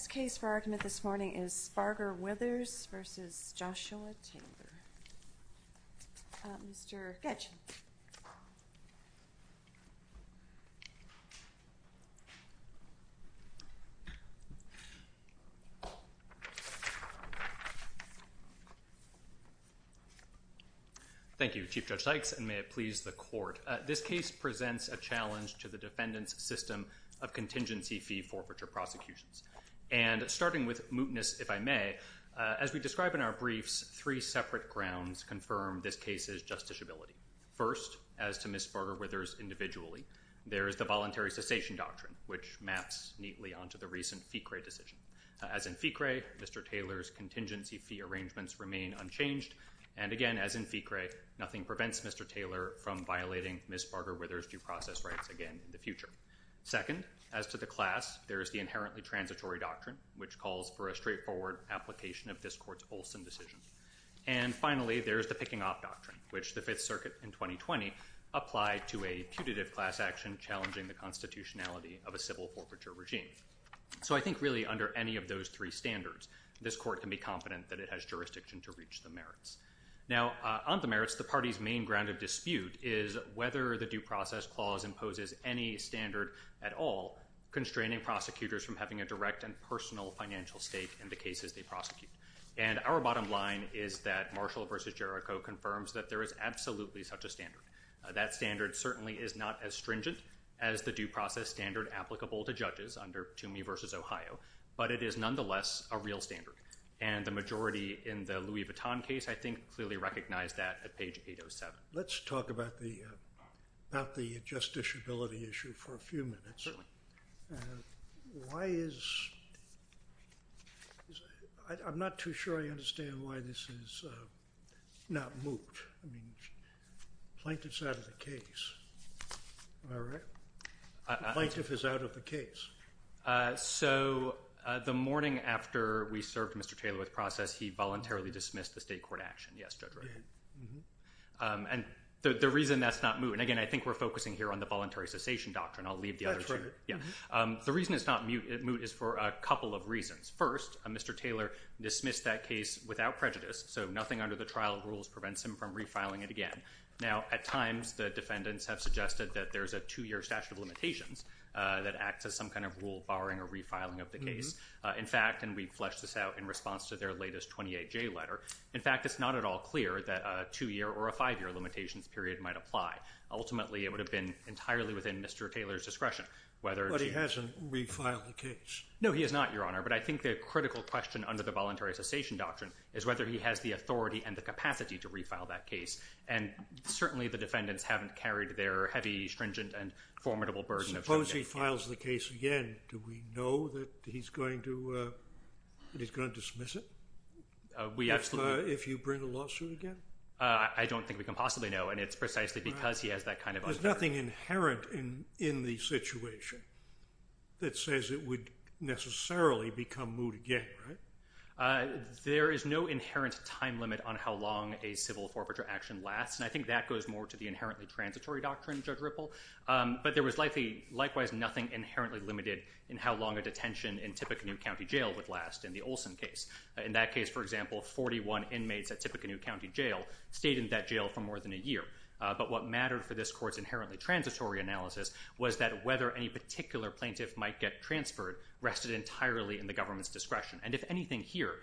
Thank you, Chief Judge Sykes, and may it please the Court, this case presents a challenge to the defendant's system of contingency fee forfeiture prosecutions. And starting with mootness, if I may, as we describe in our briefs, three separate grounds confirm this case's justiciability. First, as to Ms. Sparger-Withers individually, there is the voluntary cessation doctrine, which maps neatly onto the recent FICRE decision. As in FICRE, Mr. Taylor's contingency fee arrangements remain unchanged, and again, as in FICRE, nothing prevents Mr. Taylor from violating Ms. Sparger-Withers' due process rights again in the future. Second, as to the class, there is the inherently transitory doctrine, which calls for a straightforward application of this Court's Olson decision. And finally, there is the picking-off doctrine, which the Fifth Circuit in 2020 applied to a putative class action challenging the constitutionality of a civil forfeiture regime. So I think really, under any of those three standards, this Court can be confident that it has jurisdiction to reach the merits. Now, on the merits, the party's main ground of dispute is whether the due process clause imposes any standard at all constraining prosecutors from having a direct and personal financial stake in the cases they prosecute. And our bottom line is that Marshall v. Jericho confirms that there is absolutely such a standard. That standard certainly is not as stringent as the due process standard applicable to judges under Toomey v. Ohio, but it is nonetheless a real standard. And the majority in the Louis Vuitton case, I think, clearly recognized that page 807. Let's talk about the justiciability issue for a few minutes. I'm not too sure I understand why this is not moved. Plaintiff's out of the case. Am I right? Plaintiff is out of the case. So the morning after we served Mr. Taylor with process, he voluntarily dismissed the state court action. Yes, Judge Reagan. And the reason that's not moved, and again, I think we're focusing here on the voluntary cessation doctrine. I'll leave the other two. Yeah. The reason it's not moved is for a couple of reasons. First, Mr. Taylor dismissed that case without prejudice, so nothing under the trial rules prevents him from refiling it again. Now, at times, the defendants have suggested that there's a two-year statute of limitations that acts as some kind of rule barring a refiling of the case. In fact, and we fleshed this out in fact, it's not at all clear that a two-year or a five-year limitations period might apply. Ultimately, it would have been entirely within Mr. Taylor's discretion. But he hasn't refiled the case. No, he has not, Your Honor. But I think the critical question under the voluntary cessation doctrine is whether he has the authority and the capacity to refile that case. And certainly, the defendants haven't carried their heavy, stringent, and formidable burden. Suppose he files the case again. Do we know that he's going to dismiss it? We absolutely— If you bring a lawsuit again? I don't think we can possibly know. And it's precisely because he has that kind of— There's nothing inherent in the situation that says it would necessarily become moved again, right? There is no inherent time limit on how long a civil forfeiture action lasts. And I think that goes more to the inherently transitory doctrine, Judge Ripple. But there was likely, likewise, nothing inherently limited in how long a detention in Tippecanoe County Jail would last in the Olson case. In that case, for example, 41 inmates at Tippecanoe County Jail stayed in that jail for more than a year. But what mattered for this court's inherently transitory analysis was that whether any particular plaintiff might get transferred rested entirely in the government's discretion. And if anything here,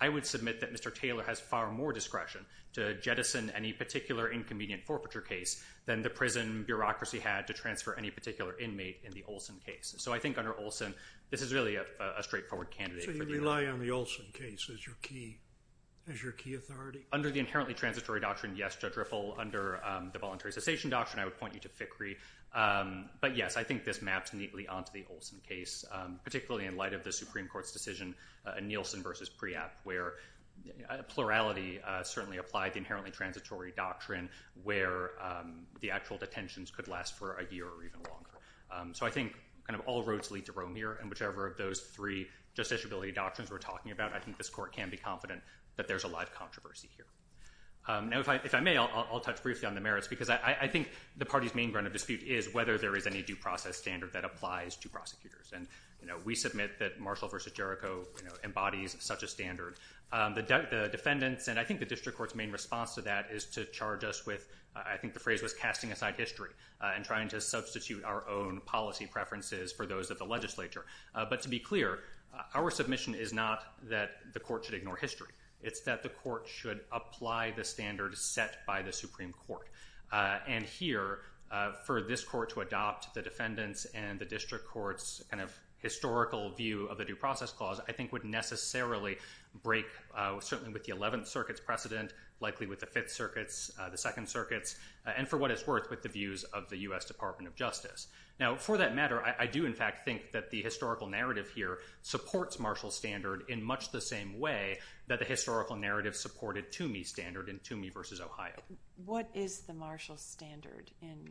I would submit that Mr. Taylor has far more discretion to jettison any particular inconvenient forfeiture case than the prison bureaucracy had to transfer any particular inmate in the Olson case. So I think under Olson, this is really a straightforward candidate for— So you rely on the Olson case as your key authority? Under the inherently transitory doctrine, yes, Judge Ripple. Under the voluntary cessation doctrine, I would point you to Fickrey. But yes, I think this maps neatly onto the Olson case, particularly in light of the Supreme Court's decision in Nielsen versus Preab, where plurality certainly applied the inherently transitory doctrine where the actual detentions could last for a year or even longer. So I think kind of all roads lead to Rome here, whichever of those three justiciability doctrines we're talking about, I think this court can be confident that there's a lot of controversy here. Now, if I may, I'll touch briefly on the merits because I think the party's main ground of dispute is whether there is any due process standard that applies to prosecutors. And we submit that Marshall versus Jericho embodies such a standard. The defendants, and I think the district court's main response to that is to charge us with— I think the phrase was casting aside history and trying to substitute our own policy preferences for those of the legislature. But to be clear, our submission is not that the court should ignore history. It's that the court should apply the standard set by the Supreme Court. And here, for this court to adopt the defendants and the district court's kind of historical view of the due process clause, I think would necessarily break certainly with the Eleventh Circuit's precedent, likely with the Fifth Circuit's, the Second Circuit's, and for what it's worth, with the views of the U.S. Department of Justice. Now, for that matter, I do in fact think that the historical narrative here supports Marshall's standard in much the same way that the historical narrative supported Toomey's standard in Toomey versus Ohio. What is the Marshall standard in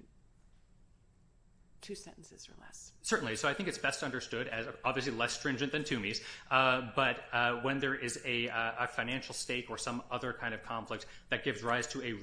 two sentences or less? Certainly. So I think it's best understood as obviously less stringent than Toomey's, but when there is a financial stake or some other kind of conflict that gives rise to a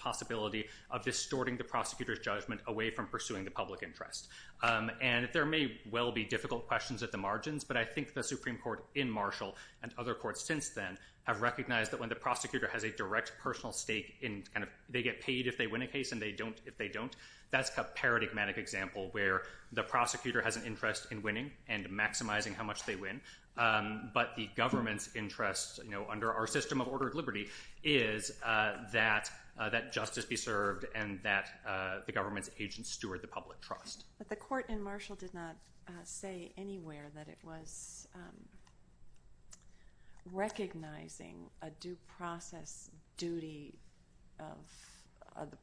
possibility of distorting the prosecutor's judgment away from pursuing the public interest. And there may well be difficult questions at the margins, but I think the Supreme Court in Marshall and other courts since then have recognized that when the prosecutor has a direct personal stake in kind of they get paid if they win a case and they don't if they don't, that's a paradigmatic example where the prosecutor has an interest in winning and maximizing how much they win. But the government's interest under our system of order of liberty is that justice be served and that the government's agents steward the public trust. But the court in Marshall did not say anywhere that it was recognizing a due process duty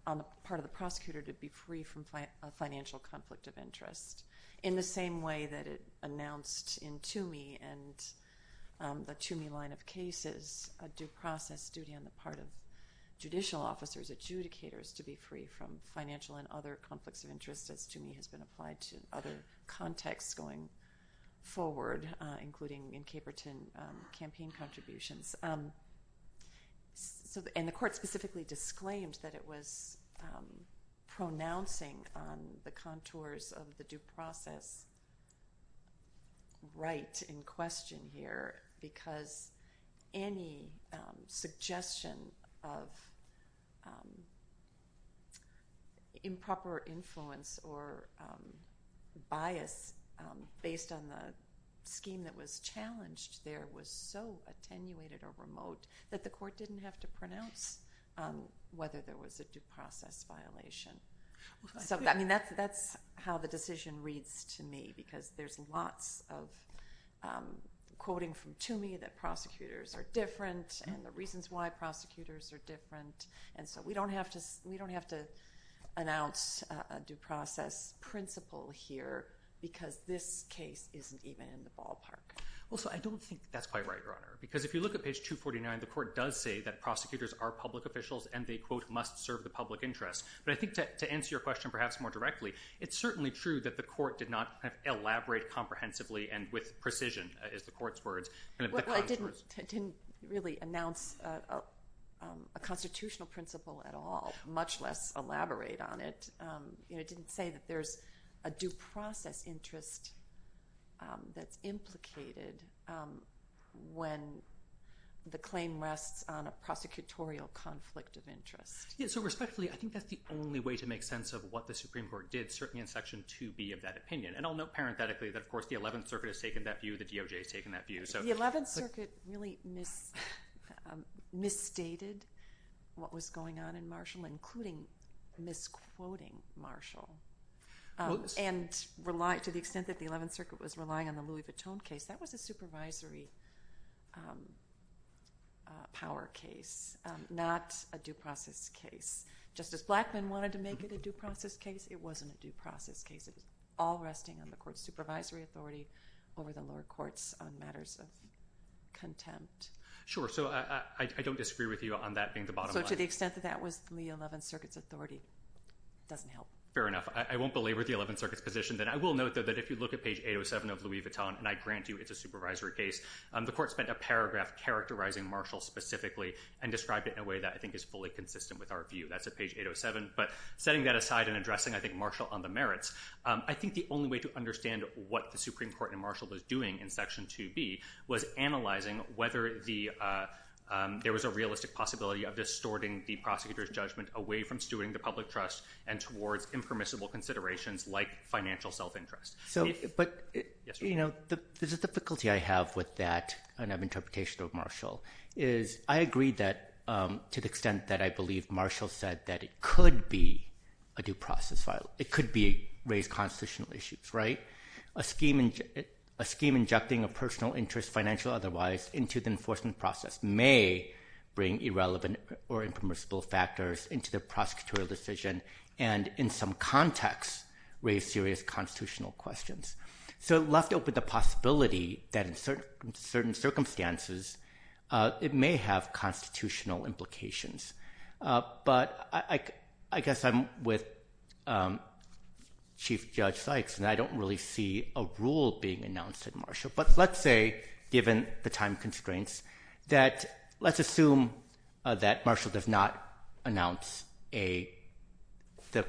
on the part of the prosecutor to be free from financial conflict of interest in the same way that it announced in Toomey and the Toomey line of cases a due process duty on the part of judicial officers adjudicators to be free from financial and other conflicts of interest as Toomey has been applied to other contexts going forward including in Caperton campaign contributions. And the court specifically disclaimed that it was pronouncing on the contours of the due process right in question here because any suggestion of improper influence or bias based on the scheme that was challenged there was so attenuated or remote that the court didn't have to pronounce whether there was a due process violation. So I mean that's how the decision reads to me because there's lots of quoting from Toomey that prosecutors are different and the reasons why prosecutors are different and so we don't have to we don't have to announce a due process principle here because this case isn't even in the ballpark. Well so I don't think that's quite right your honor because if you look at page 249 the court does say that prosecutors are public officials and they quote must serve the public interest but I think that to answer your question perhaps more directly it's certainly true that the court did not elaborate comprehensively and with precision is the court's words and it didn't didn't really announce a constitutional principle at all much less elaborate on it. You know it didn't say that there's a due process interest that's implicated when the claim rests on a prosecutorial conflict of interest. Yeah so respectfully I think that's the only way to make sense of what the Supreme Court did certainly in section 2b of that opinion and I'll note parenthetically that of course the 11th circuit has taken that view the DOJ has taken that view. The 11th circuit really misstated what was going on in Marshall including misquoting Marshall and to the extent that the 11th circuit was relying on the Louis Vuitton case that was a supervisory power case not a due process case. Justice Blackmun wanted to make it a due process case it wasn't a due process case it was all resting on the court's supervisory authority over the lower courts on matters of contempt. Sure so I don't disagree with you on that being the bottom line. So to the extent that that was the 11th circuit's authority doesn't help. Fair enough I won't belabor the 11th circuit's position then I will note though that if you look at page 807 of Louis Vuitton and I grant you it's a supervisory case the court spent a paragraph characterizing Marshall specifically and described it in a way that I think is fully consistent with our view that's at page 807 but setting that aside and addressing I think Marshall on the merits I think the only way to understand what the Supreme Court and Marshall was doing in section 2b was analyzing whether there was a realistic possibility of distorting the prosecutor's judgment away from stewarding the public trust and towards impermissible considerations like financial self-interest. But you know there's a difficulty I have with that and of interpretation of Marshall is I agree that to the extent that I believe Marshall said that could be a due process file it could be raised constitutional issues right a scheme in a scheme injecting a personal interest financial otherwise into the enforcement process may bring irrelevant or impermissible factors into the prosecutorial decision and in some context raise serious constitutional questions. So left open the possibility that in certain circumstances it may have constitutional implications but I guess I'm with Chief Judge Sykes and I don't really see a rule being announced at Marshall but let's say given the time constraints that let's assume that Marshall does not announce a the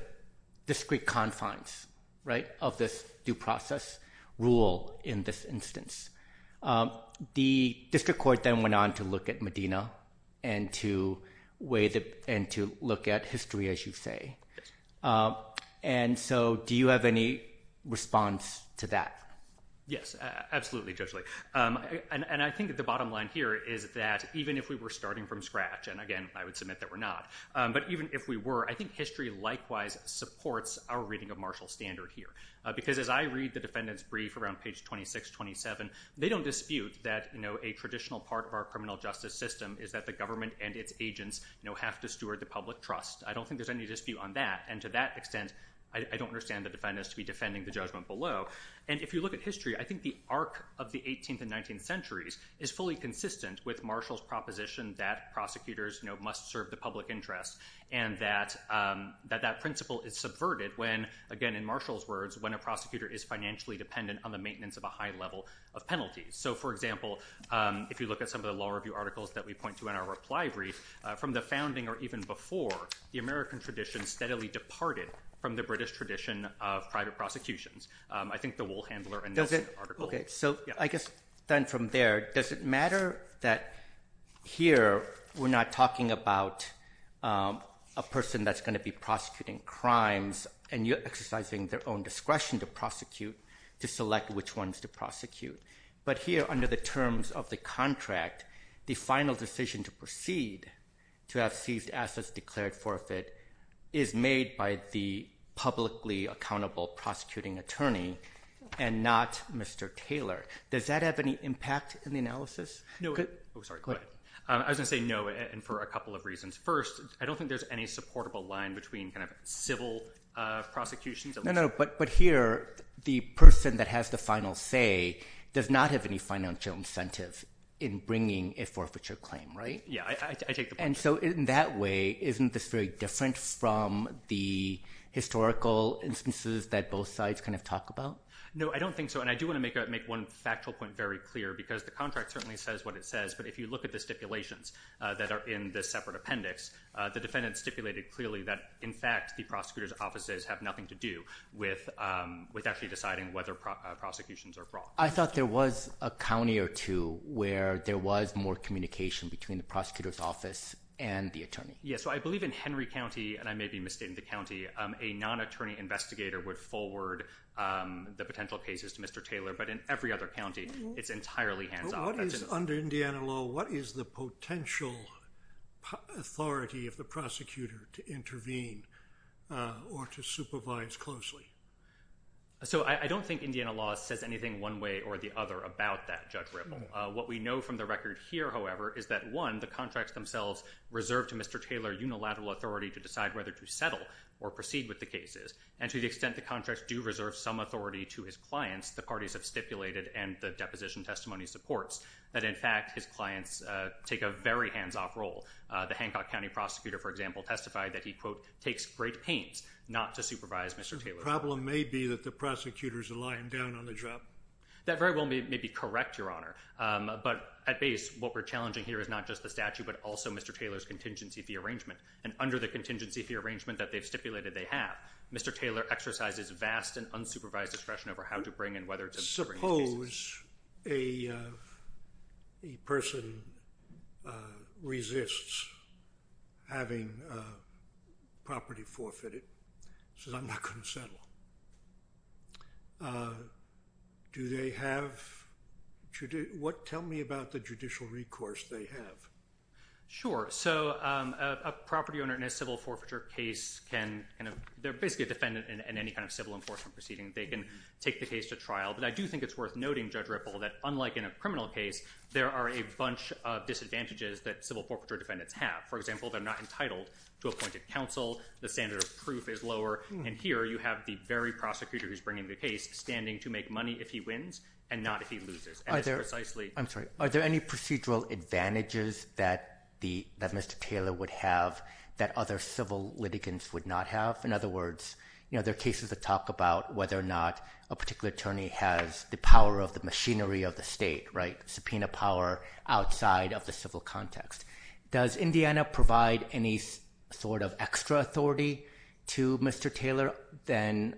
discrete confines right of this due process rule in this instance. The district court then went on to look at Medina and to wait and to look at history as you say and so do you have any response to that? Yes absolutely Judge Lee and I think the bottom line here is that even if we were starting from scratch and again I would submit that we're not but even if we were I think history likewise supports our reading of Marshall standard here because as I read the defendant's brief around page 26 27 they don't dispute that you know a traditional part of our criminal justice system is that the government and its agents you know have to steward the public trust. I don't think there's any dispute on that and to that extent I don't understand the defendants to be defending the judgment below and if you look at history I think the arc of the 18th and 19th centuries is fully consistent with Marshall's proposition that prosecutors you know must serve the public interest and that that principle is subverted when again in Marshall's words when a prosecutor is financially dependent on the maintenance of a high level of penalties. So for example if you look at some of the law review articles that we point to in our reply brief from the founding or even before the American tradition steadily departed from the British tradition of private prosecutions. I think the wool handler and does it okay so I guess then from there does it matter that here we're not talking about a person that's going to be prosecuting crimes and you're exercising their own discretion to prosecute to select which ones to prosecute but here under the terms of the contract the final decision to proceed to have seized assets declared forfeit is made by the publicly accountable prosecuting attorney and not Mr. Taylor. Does that have any impact in the analysis? No sorry I was gonna say no and for a couple of reasons. First I don't think there's any supportable line between kind of civil prosecutions. No no but but here the person that has the final say does not have any financial incentive in bringing a forfeiture claim right? Yeah I take the point. And so in that way isn't this very different from the historical instances that both sides kind of talk about? No I don't think so and I do want to make a make one factual point very clear because the contract certainly says what it says but if you look at the stipulations that are in this separate appendix the defendant stipulated clearly that in fact the prosecutor's offices have nothing to do with actually deciding whether prosecutions are wrong. I thought there was a county or two where there was more communication between the prosecutor's office and the attorney. Yeah so I believe in Henry County and I may be but in every other county it's entirely hands-on. Under Indiana law what is the potential authority of the prosecutor to intervene or to supervise closely? So I don't think Indiana law says anything one way or the other about that Judge Ripple. What we know from the record here however is that one the contracts themselves reserve to Mr. Taylor unilateral authority to decide whether to settle or proceed with the cases and to the extent the contracts do reserve some authority to his clients the parties have stipulated and the deposition testimony supports that in fact his clients take a very hands-off role. The Hancock County prosecutor for example testified that he quote takes great pains not to supervise Mr. Taylor. The problem may be that the prosecutors are lying down on the job. That very well may be correct your honor but at base what we're challenging here is not just the statute but also Mr. Taylor's contingency fee arrangement and under the contingency fee arrangement that they've stipulated they have Mr. Taylor exercises vast and unsupervised discretion over how to bring in whether to bring. Suppose a person resists having property forfeited says I'm not going to settle. Do they have to do what tell me about the judicial recourse they have? Sure so a property owner in a they can take the case to trial but I do think it's worth noting Judge Ripple that unlike in a criminal case there are a bunch of disadvantages that civil forfeiture defendants have. For example they're not entitled to appointed counsel the standard of proof is lower and here you have the very prosecutor who's bringing the case standing to make money if he wins and not if he loses. Are there any procedural advantages that Mr. Taylor would have that other civil litigants would not have? In other words you know there are cases that talk about whether or not a particular attorney has the power of the machinery of the state right subpoena power outside of the civil context. Does Indiana provide any sort of extra authority to Mr. Taylor than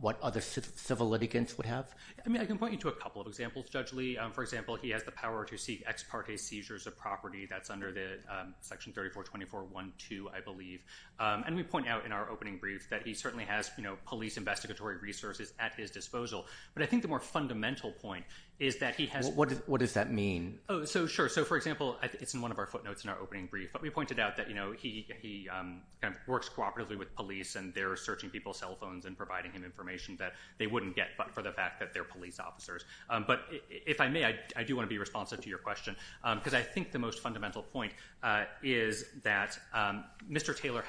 what other civil litigants would have? I mean I can point you to a couple of examples Judge Lee for example he has the power to seek ex parte seizures of property that's under the section 34 24 1 2 I believe and we point out in our opening brief that he certainly has you know police investigatory resources at his disposal but I think the more fundamental point is that he has. What does that mean? Oh so sure so for example it's in one of our footnotes in our opening brief but we pointed out that you know he kind of works cooperatively with police and they're searching people's cell phones and providing him information that they wouldn't get but for the fact that they're police officers but if I may I do want to be responsive to your question because I think the most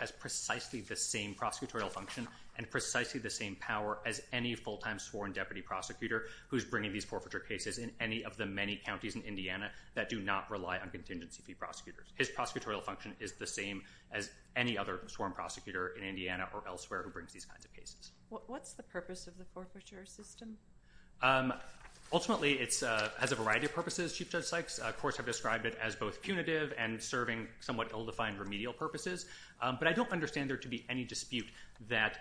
has precisely the same prosecutorial function and precisely the same power as any full-time sworn deputy prosecutor who's bringing these forfeiture cases in any of the many counties in Indiana that do not rely on contingency fee prosecutors. His prosecutorial function is the same as any other sworn prosecutor in Indiana or elsewhere who brings these kinds of cases. What's the purpose of the forfeiture system? Ultimately it's uh has a variety of purposes Chief Judge Sykes of course described it as both punitive and serving somewhat ill-defined remedial purposes but I don't understand there to be any dispute that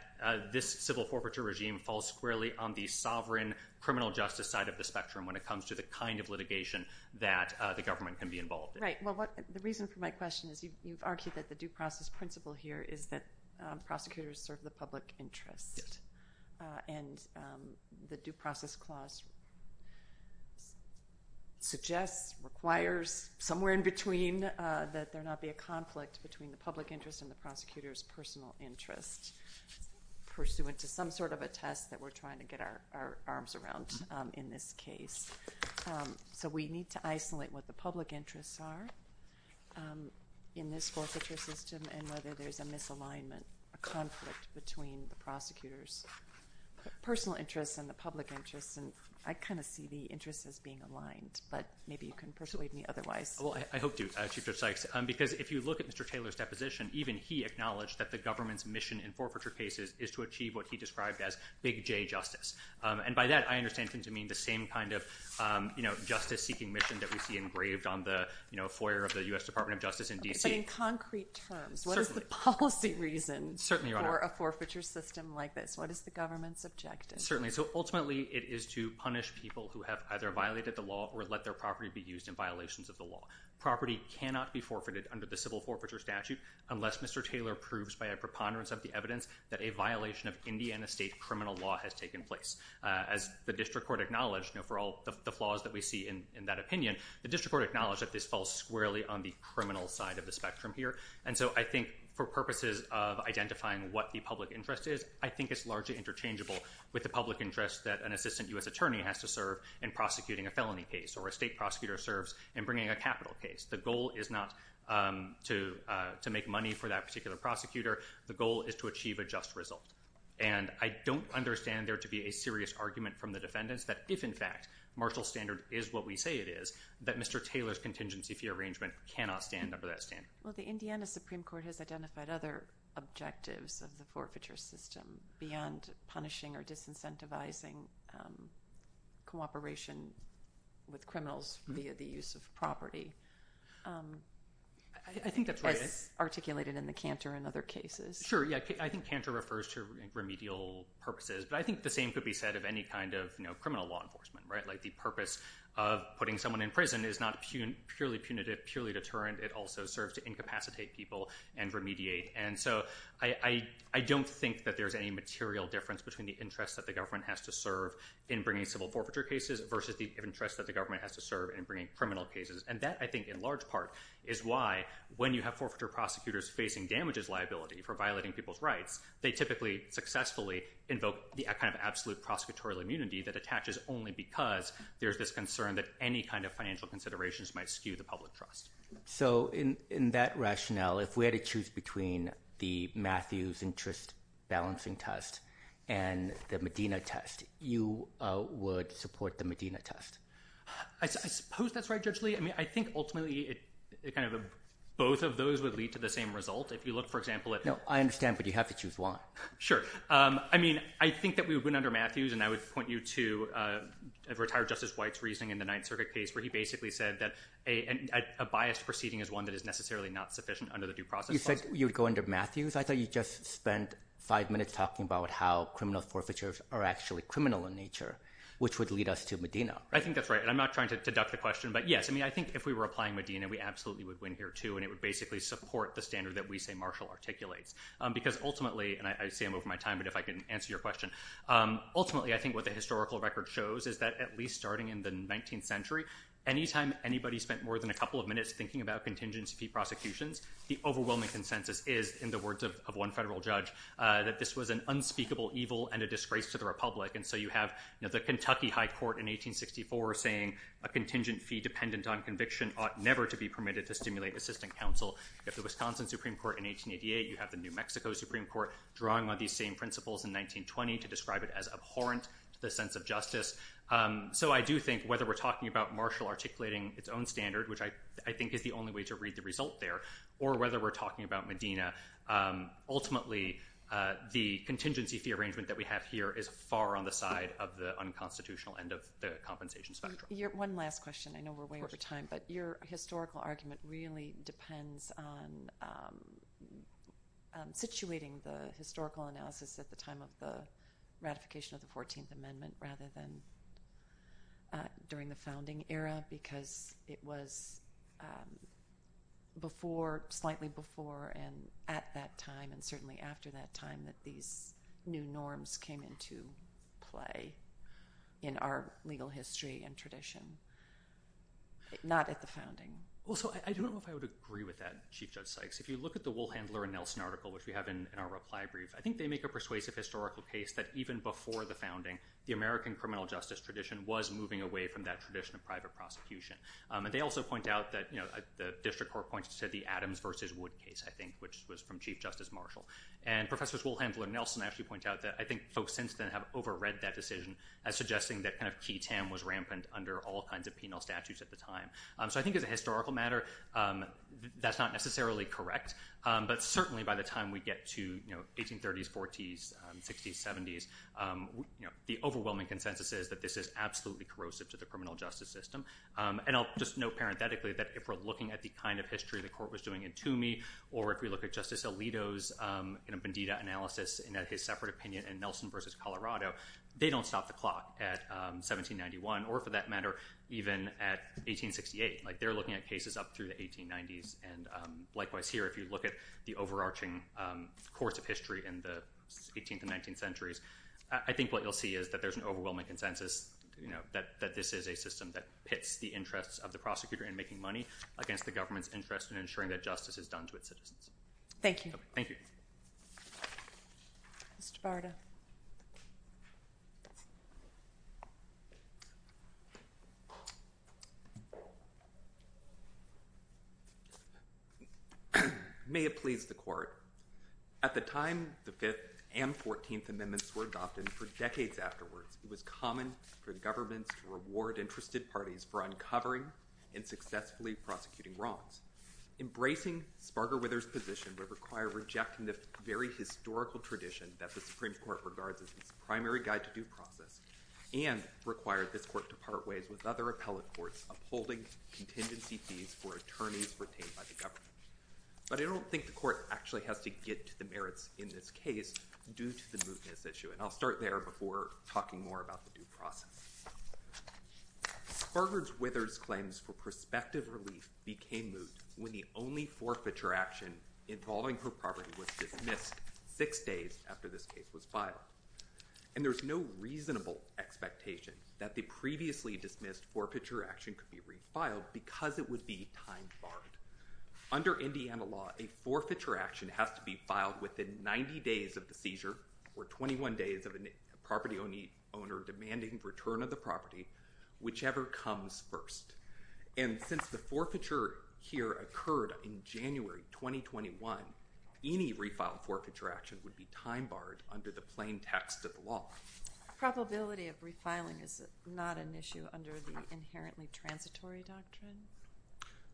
this civil forfeiture regime falls squarely on the sovereign criminal justice side of the spectrum when it comes to the kind of litigation that the government can be involved in. Right well what the reason for my question is you've argued that the due process principle here is that prosecutors serve the public interest and the due process clause suggests requires somewhere in between that there not be a conflict between the public interest and the prosecutor's personal interest pursuant to some sort of a test that we're trying to get our our arms around in this case. So we need to isolate what the public interests are in this forfeiture system and whether there's a misalignment a conflict between the prosecutor's personal interests and the public interests and I kind of see the interests as being aligned but maybe you can persuade me otherwise. Well I hope to Chief Judge Sykes because if you look at Mr. Taylor's deposition even he acknowledged that the government's mission in forfeiture cases is to achieve what he described as big J justice and by that I understand him to mean the same kind of um you know justice seeking mission that we see engraved on the you know foyer of the U.S. Department of Justice in D.C. But in concrete terms what is the policy reason for a forfeiture system like this? What is the government's objective? Certainly so ultimately it is to punish people who have either violated the law or let their property be used in violations of the law. Property cannot be forfeited under the civil forfeiture statute unless Mr. Taylor proves by a preponderance of the evidence that a violation of Indiana state criminal law has taken place. As the district court acknowledged you know for all the flaws that we see in in that opinion the district court acknowledged that this falls squarely on the criminal side of the spectrum here and so I think for purposes of identifying what the public interest is I think it's largely interchangeable with the public interest that an assistant U.S. attorney has to serve in prosecuting a felony case or a state prosecutor serves in bringing a capital case. The goal is not um to uh to make money for that particular prosecutor the goal is to achieve a just result and I don't understand there to be a serious argument from the defendants that if in fact Marshall Standard is what we say it is that Mr. Taylor's contingency fee arrangement cannot stand well the Indiana Supreme Court has identified other objectives of the forfeiture system beyond punishing or disincentivizing um cooperation with criminals via the use of property um I think that's articulated in the canter in other cases. Sure yeah I think canter refers to remedial purposes but I think the same could be said of any kind of you know criminal law enforcement right like the purpose of putting someone in prison is not purely punitive purely deterrent it also serves to incapacitate people and remediate and so I I don't think that there's any material difference between the interest that the government has to serve in bringing civil forfeiture cases versus the interest that the government has to serve in bringing criminal cases and that I think in large part is why when you have forfeiture prosecutors facing damages liability for violating people's rights they typically successfully invoke the kind of absolute prosecutorial immunity that attaches only because there's this concern that any kind of financial considerations might skew the public trust. So in in that rationale if we had to choose between the Matthews interest balancing test and the Medina test you uh would support the Medina test? I suppose that's right Judge Lee I mean I think ultimately it kind of both of those would lead to the same result if you look for example. No I understand but you have to choose one. Sure um I mean I think that we would win under Matthews and I would point you to uh retired Justice White's reasoning in the Ninth Circuit case where he basically said that a a biased proceeding is one that is necessarily not sufficient under the due process. You said you'd go under Matthews I thought you just spent five minutes talking about how criminal forfeitures are actually criminal in nature which would lead us to Medina. I think that's right and I'm not trying to deduct the question but yes I mean I think if we were applying Medina we absolutely would win here too and it would basically support the standard that we say Marshall articulates because ultimately and I say I'm over my time but if I can answer your question um ultimately I think what the historical record shows is that at least starting in the 19th century anytime anybody spent more than a couple of minutes thinking about contingency fee prosecutions the overwhelming consensus is in the words of one federal judge uh that this was an unspeakable evil and a disgrace to the republic and so you have you know the Kentucky High Court in 1864 saying a contingent fee dependent on conviction ought never to be permitted to stimulate assistant counsel. If the Wisconsin Supreme Court in 1888 you have the New Mexico Supreme Court drawing on these same principles in 1920 to describe it as abhorrent the sense of justice so I do think whether we're talking about Marshall articulating its own standard which I I think is the only way to read the result there or whether we're talking about Medina ultimately the contingency fee arrangement that we have here is far on the side of the unconstitutional end of the compensation spectrum. Your one last question I know we're way over time but your historical argument really depends on situating the historical analysis at the time of the ratification of the 14th amendment rather than during the founding era because it was before slightly before and at that time and certainly after that time that these new norms came into play in our legal history and tradition not at the founding. Well so I don't know if I would agree with that Chief Judge Sykes if you look at the Woolhandler and Nelson article which we have in our reply brief I think they make a persuasive historical case that even before the founding the American criminal justice tradition was moving away from that tradition of private prosecution and they also point out that you know the district court points to the Adams versus Wood case I think which was from Chief Justice Marshall and professors Woolhandler and Nelson actually point out that I think folks since then have overread that decision as suggesting that kind of key tam was rampant under all kinds of penal statutes at the time. So I think as a historical matter that's not necessarily correct but certainly by the time we get to you know 1830s, 40s, 60s, 70s you know the overwhelming consensus is that this is absolutely corrosive to the criminal justice system and I'll just note parenthetically that if we're looking at the kind of history the court was doing in Toomey or if we look at Justice Alito's Bandita analysis and at his separate opinion in Nelson versus Colorado they don't stop the clock at 1791 or for that matter even at 1868 like they're looking at cases up through the 1890s and likewise here if you look at the overarching course of history in the 18th and 19th centuries I think what you'll see is that there's an overwhelming consensus you know that that this is a system that pits the interests of the prosecutor in making money against the government's interest in ensuring that justice is done to its citizens. Thank you. Thank you. Mr. Barda. May it please the court at the time the 5th and 14th amendments were adopted for decades afterwards it was common for governments to reward interested parties for uncovering and successfully prosecuting wrongs. Embracing Sparger Withers position would require rejecting the very historical tradition that the Supreme Court regards as its primary guide to due process and require this court to part ways with other appellate courts upholding contingency fees for attorneys retained by the government. But I don't think the court actually has to get to the merits in this case due to the mootness issue and I'll start there before talking more about the due process. Sparger Withers' claims for prospective relief became moot when the only forfeiture action involving her property was dismissed six days after this case was filed and there's no reasonable expectation that the previously dismissed forfeiture action could be refiled because it would be time borrowed. Under Indiana law a forfeiture action has to be filed within 90 days of the seizure or 21 days of a property owner demanding return of the property whichever comes first and since the forfeiture here occurred in January 2021 any refiled forfeiture action would be time borrowed under the plain text of the law. Probability of refiling is not an issue under the inherently transitory doctrine?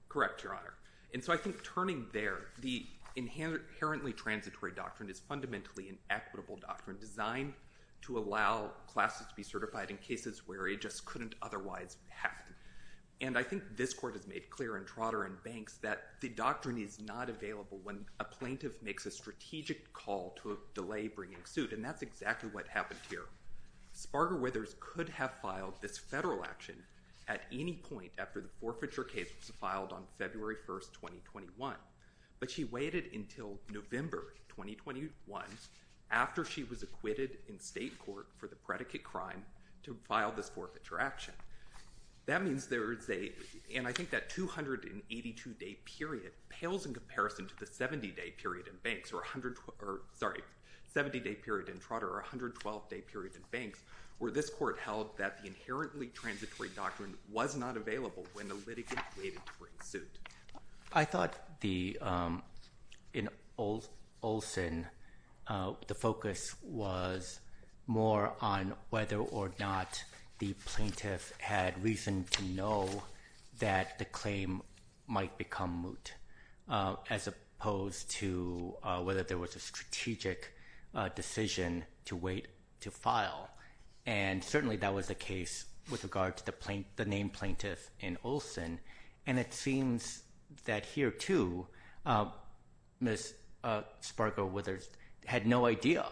Correct your honor and so I think turning there the inherently transitory doctrine is fundamentally an equitable doctrine designed to allow classes to be certified in cases where it just couldn't otherwise happen and I think this court has made clear in Trotter and Banks that the doctrine is not available when a plaintiff makes a strategic call to a delay bringing suit and that's exactly what happened here. Sparger Withers could have filed this federal action at any point after the forfeiture case was filed on February 1st 2021 but she waited until November 2021 after she was acquitted in state court for the predicate crime to file this forfeiture action. That means there's a and I think that 282 day period pales in comparison to the 70 day period in Banks or 100 or sorry 70 day period in Trotter or 112 day period in Banks where this court held that the inherently transitory doctrine was not available when the suit. I thought the in Olson the focus was more on whether or not the plaintiff had reason to know that the claim might become moot as opposed to whether there was a strategic decision to wait to file and certainly that was the case with regard to the name plaintiff in Olson and it seems that here too Ms. Sparger Withers had no idea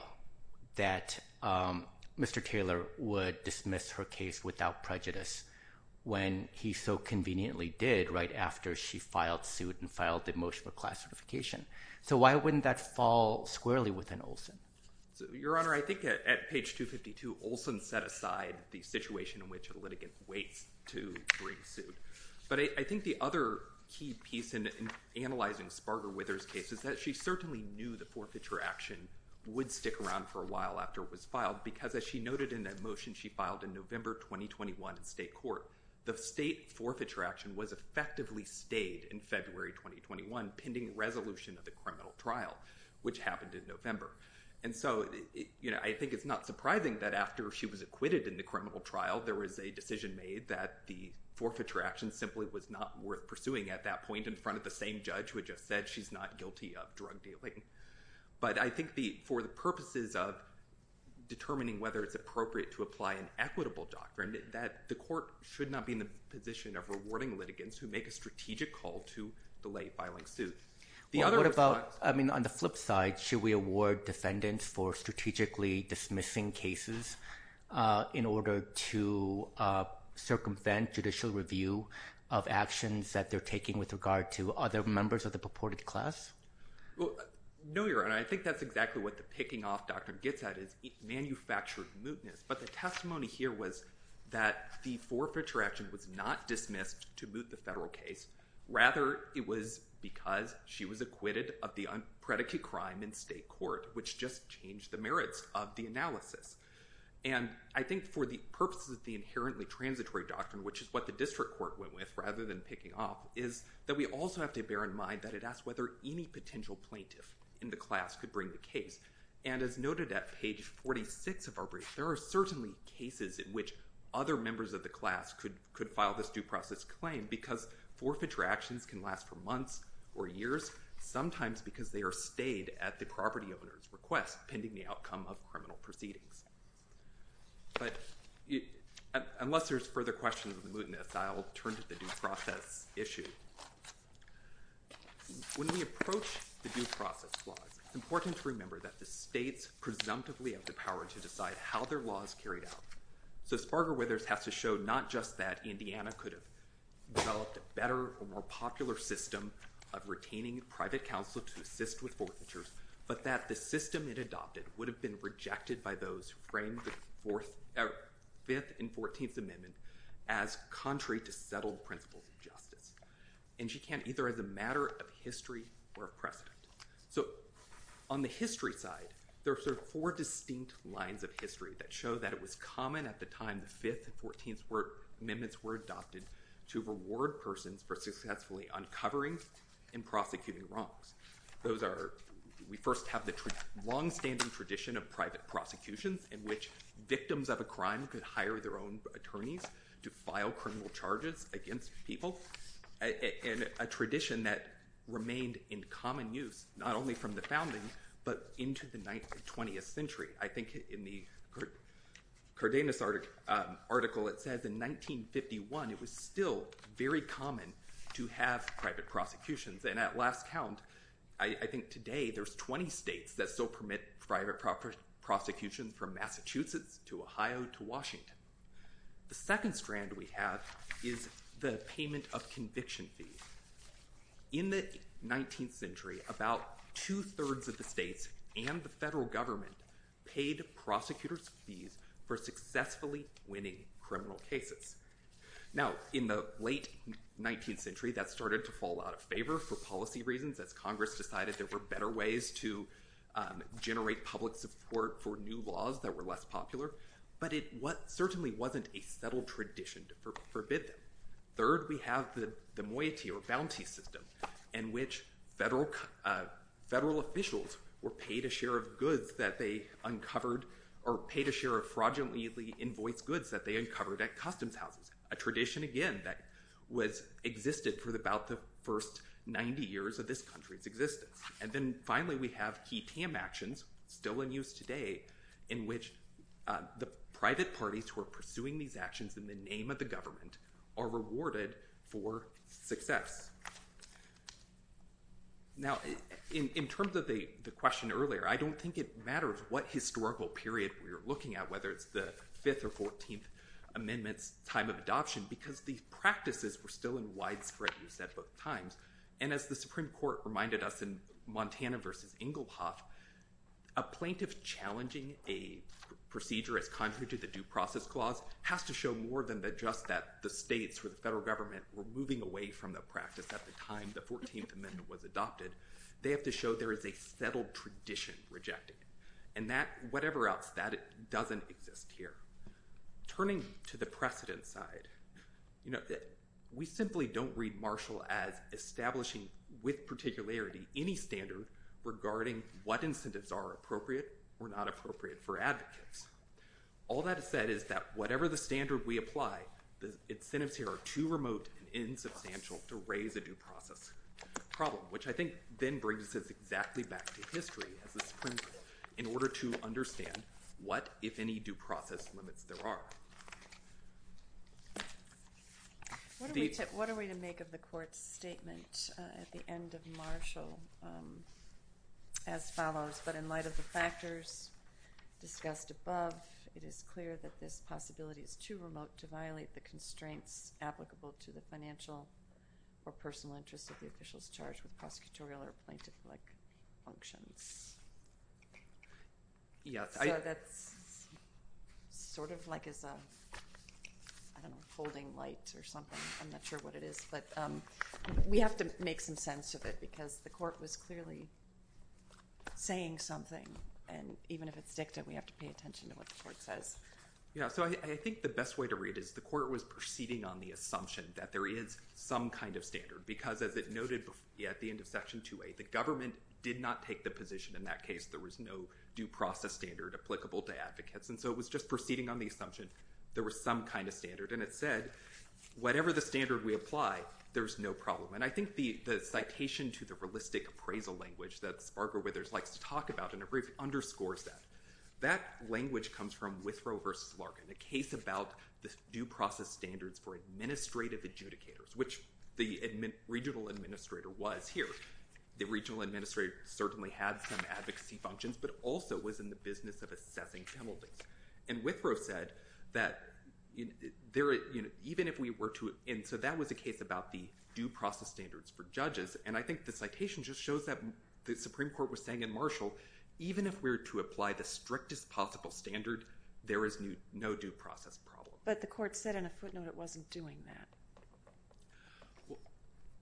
that Mr. Taylor would dismiss her case without prejudice when he so conveniently did right after she filed suit and filed the motion for class so why wouldn't that fall squarely within Olson? Your honor I think at page 252 Olson set aside the situation in which a litigant waits to bring suit but I think the other key piece in analyzing Sparger Withers case is that she certainly knew the forfeiture action would stick around for a while after it was filed because as she noted in that motion she filed in November 2021 in state the state forfeiture action was effectively stayed in February 2021 pending resolution of the criminal trial which happened in November and so you know I think it's not surprising that after she was acquitted in the criminal trial there was a decision made that the forfeiture action simply was not worth pursuing at that point in front of the same judge who just said she's not guilty of drug dealing but I think the for the purposes of determining whether it's appropriate to apply an equitable doctrine that the court should not be in the position of rewarding litigants who make a strategic call to delay filing suit. What about I mean on the flip side should we award defendants for strategically dismissing cases in order to circumvent judicial review of actions that they're taking with regard to other members of the purported class? Well no your honor I think that's exactly what the picking off doctrine gets at is manufactured mootness but the testimony here was that the forfeiture action was not dismissed to moot the federal case rather it was because she was acquitted of the unpredicate crime in state court which just changed the merits of the analysis and I think for the purposes of the inherently transitory doctrine which is what the district court went with rather than picking off is that we also have to bear in mind that it asked whether any potential plaintiff in the class could bring the case and as noted at page 46 of our brief there are certainly cases in which other members of the class could could file this due process claim because forfeiture actions can last for months or years sometimes because they are stayed at the property owner's request pending the outcome of criminal proceedings but unless there's further questions with mootness I'll turn to the due process laws. It's important to remember that the states presumptively have the power to decide how their laws carried out so Sparger Withers has to show not just that Indiana could have developed a better or more popular system of retaining private counsel to assist with forfeitures but that the system it adopted would have been rejected by those who framed the fourth or fifth and 14th amendment as contrary to settled principles of justice and she can't either as a matter of history or precedent. So on the history side there are four distinct lines of history that show that it was common at the time the fifth and 14th amendments were adopted to reward persons for successfully uncovering and prosecuting wrongs. Those are we first have the long-standing tradition of private prosecutions in which victims of a crime could hire their own to file criminal charges against people and a tradition that remained in common use not only from the founding but into the 19th 20th century. I think in the Cardenas article it says in 1951 it was still very common to have private prosecutions and at last count I think today there's 20 states that still permit private proper prosecution from Massachusetts to Ohio to Washington. The second strand we have is the payment of conviction fees. In the 19th century about two-thirds of the states and the federal government paid prosecutors fees for successfully winning criminal cases. Now in the late 19th century that started to fall out of favor for reasons as Congress decided there were better ways to generate public support for new laws that were less popular but it what certainly wasn't a settled tradition to forbid them. Third we have the the moiety or bounty system in which federal officials were paid a share of goods that they uncovered or paid a share of fraudulently invoiced goods that they uncovered at customs houses. A tradition again that was existed for about the first 90 years of this country's existence and then finally we have key TAM actions still in use today in which the private parties who are pursuing these actions in the name of the government are rewarded for success. Now in in terms of the the question earlier I don't think it matters what historical period we were looking at whether it's the 5th or 14th amendments time of adoption because these practices were still in widespread use at both times and as the Supreme Court reminded us in Montana versus Engelhoff a plaintiff challenging a procedure as contrary to the due process clause has to show more than that just that the states or the federal government were moving away from the practice at the time the 14th amendment was adopted. They have to show there is a settled tradition rejected and that whatever else that doesn't exist here. Turning to the precedent side you know that we simply don't read Marshall as establishing with particularity any standard regarding what incentives are appropriate or not appropriate for advocates. All that is said is that whatever the standard we apply the incentives here are too remote and insubstantial to raise a process problem which I think then brings us exactly back to history as the Supreme Court in order to understand what if any due process limits there are. What are we to make of the court's statement at the end of Marshall as follows but in light of the factors discussed above it is clear that this possibility is too remote to violate the constraints applicable to the financial or personal interests of the officials charged with prosecutorial or plaintiff-like functions. So that's sort of like as a I don't know holding light or something I'm not sure what it is but we have to make some sense of it because the court was clearly saying something and even if it's dicta we have to pay attention to what the court says. Yeah so I think the best way to read is the court was proceeding on the assumption that there is some kind of standard because as it noted at the end of section 2a the government did not take the position in that case there was no due process standard applicable to advocates and so it was just proceeding on the assumption there was some kind of standard and it said whatever the standard we apply there's no problem and I think the the citation to the realistic appraisal language that Sparker Withers likes to talk about in a brief underscores that that language comes from Withrow versus Larkin the case about the due process standards for administrative adjudicators which the regional administrator was here the regional administrator certainly had some advocacy functions but also was in the business of assessing penalties and Withrow said that there you know even if we were to and so that was a case about the due process standards for judges and I think the just shows that the Supreme Court was saying in Marshall even if we were to apply the strictest possible standard there is no due process problem but the court said in a footnote it wasn't doing that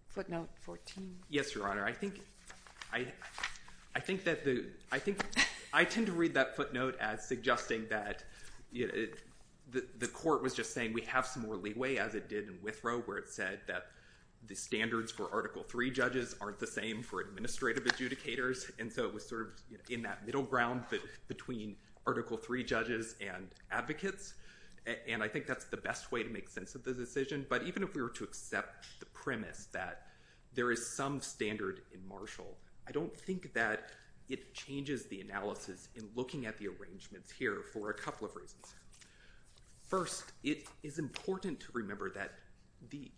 footnote 14 yes your honor I think I I think that the I think I tend to read that footnote as suggesting that you know the the court was just saying we have some more leeway as it did in where it said that the standards for article three judges aren't the same for administrative adjudicators and so it was sort of in that middle ground but between article three judges and advocates and I think that's the best way to make sense of the decision but even if we were to accept the premise that there is some standard in Marshall I don't think that it changes the analysis in looking at the arrangements here for a couple of reasons first it is important to remember that the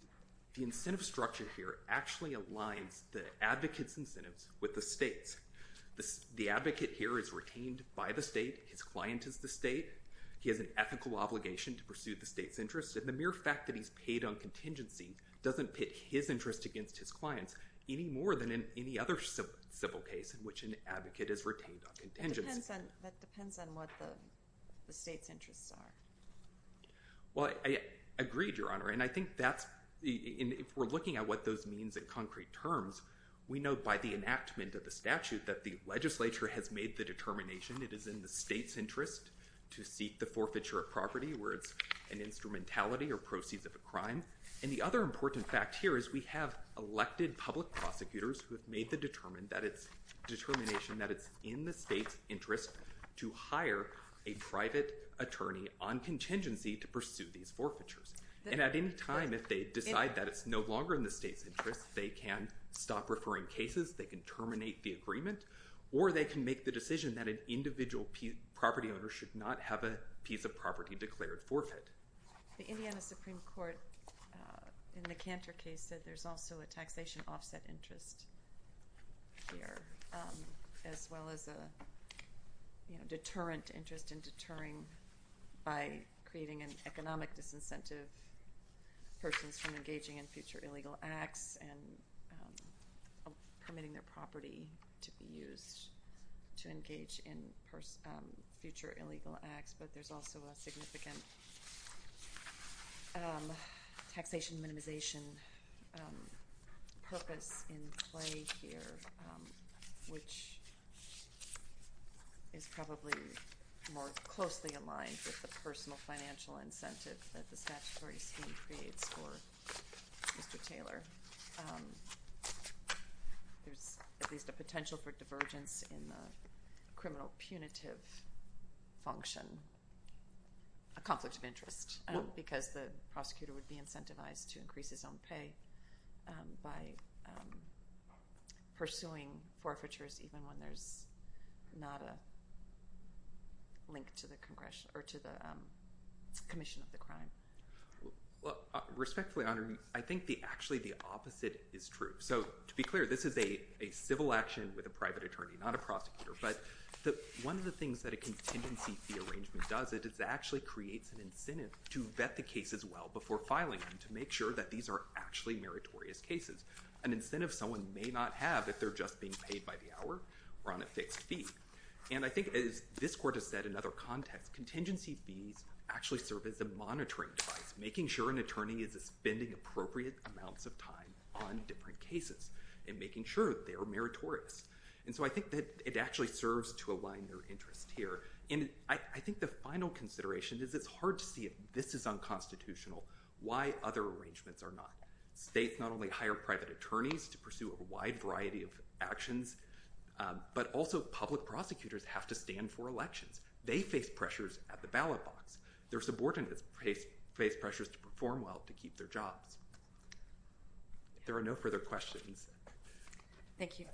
the incentive structure here actually aligns the advocates incentives with the states the the advocate here is retained by the state his client is the state he has an ethical obligation to pursue the state's interest and the mere fact that he's paid on contingency doesn't pit his interest against his clients any more than in any other civil case in which an advocate is contingent that depends on what the state's interests are well I agreed your honor and I think that's in if we're looking at what those means in concrete terms we know by the enactment of the statute that the legislature has made the determination it is in the state's interest to seek the forfeiture of property where it's an instrumentality or proceeds of a crime and the other important fact here is we have elected public prosecutors who have made the determined that it's determination that it's in the state's interest to hire a private attorney on contingency to pursue these forfeitures and at any time if they decide that it's no longer in the state's interest they can stop referring cases they can terminate the agreement or they can make the decision that an individual property owner should not have a piece of property declared forfeit the indiana supreme court in the canter case said there's also a taxation offset interest here as well as a deterrent interest in deterring by creating an economic disincentive persons from engaging in future illegal acts and permitting their property to be used to engage in future illegal acts but there's also a significant taxation minimization purpose in play here which is probably more closely aligned with the personal financial incentive that the statutory scheme creates for mr taylor there's at least a potential for divergence in the criminal punitive function a conflict of interest because the prosecutor would be incentivized to increase his own pay by pursuing forfeitures even when there's not a link to the congressional or to the commission of the crime well respectfully honoring i think the actually the opposite is true so to be clear this is a a civil action with a private attorney not a prosecutor but the one of the things that a contingency fee arrangement does it is actually creates an incentive to vet the case as well before filing them to make sure that these are actually meritorious cases an incentive someone may not have if they're just being paid by the hour we're on a fixed fee and i think as this court has said in other contexts contingency fees actually serve as a monitoring device making sure an attorney is spending appropriate amounts of time on different cases and making sure they are meritorious and so i think that it actually serves to align their interest here and i i think the final consideration is it's hard to see if this is unconstitutional why other arrangements are not states not only hire private attorneys to pursue a wide variety of actions but also public prosecutors have to stand for elections they face pressures at the ballot box their subordinates face face pressures to perform well to keep their jobs there are no further questions thank you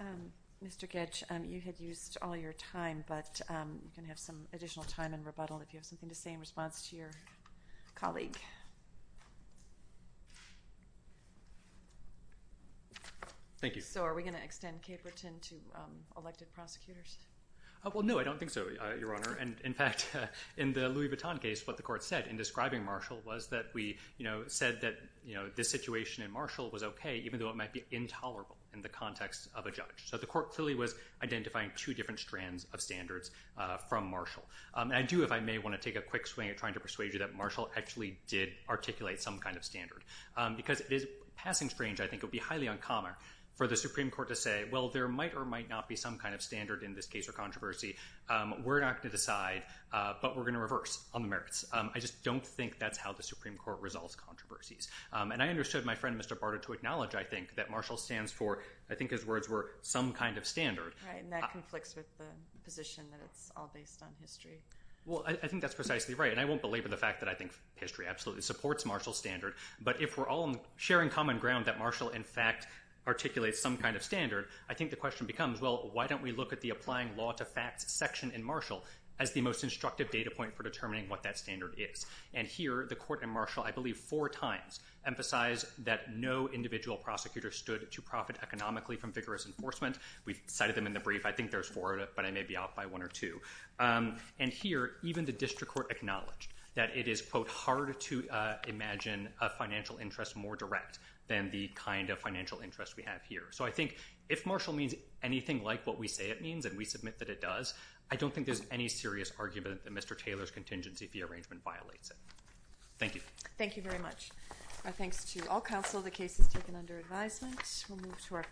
um mr getch um you had used all your time but um you can have some additional time and rebuttal if you have questions thank you so are we going to extend caperton to um elected prosecutors well no i don't think so your honor and in fact in the louis vuitton case what the court said in describing marshall was that we you know said that you know this situation in marshall was okay even though it might be intolerable in the context of a judge so the court clearly was identifying two different strands of standards uh from marshall um i do if i may want to take a quick trying to persuade you that marshall actually did articulate some kind of standard um because it is passing strange i think it would be highly uncommon for the supreme court to say well there might or might not be some kind of standard in this case or controversy um we're not going to decide uh but we're going to reverse on the merits um i just don't think that's how the supreme court resolves controversies um and i understood my friend mr barter to acknowledge i think that marshall stands for i think his words were some kind of standard right and that conflicts with the position that it's all based on history well i think that's precisely right and i won't belabor the fact that i think history absolutely supports marshall's standard but if we're all sharing common ground that marshall in fact articulates some kind of standard i think the question becomes well why don't we look at the applying law to facts section in marshall as the most instructive data point for determining what that standard is and here the court and marshall i believe four times emphasize that no individual prosecutor stood to profit economically from vigorous enforcement we've cited them in the brief i think there's four but i may be off by one or two and here even the district court acknowledged that it is quote hard to uh imagine a financial interest more direct than the kind of financial interest we have here so i think if marshall means anything like what we say it means and we submit that it does i don't think there's any serious argument that mr taylor's contingency the arrangement violates it thank you thank you our thanks to all counsel the case is taken under advisement we'll move to our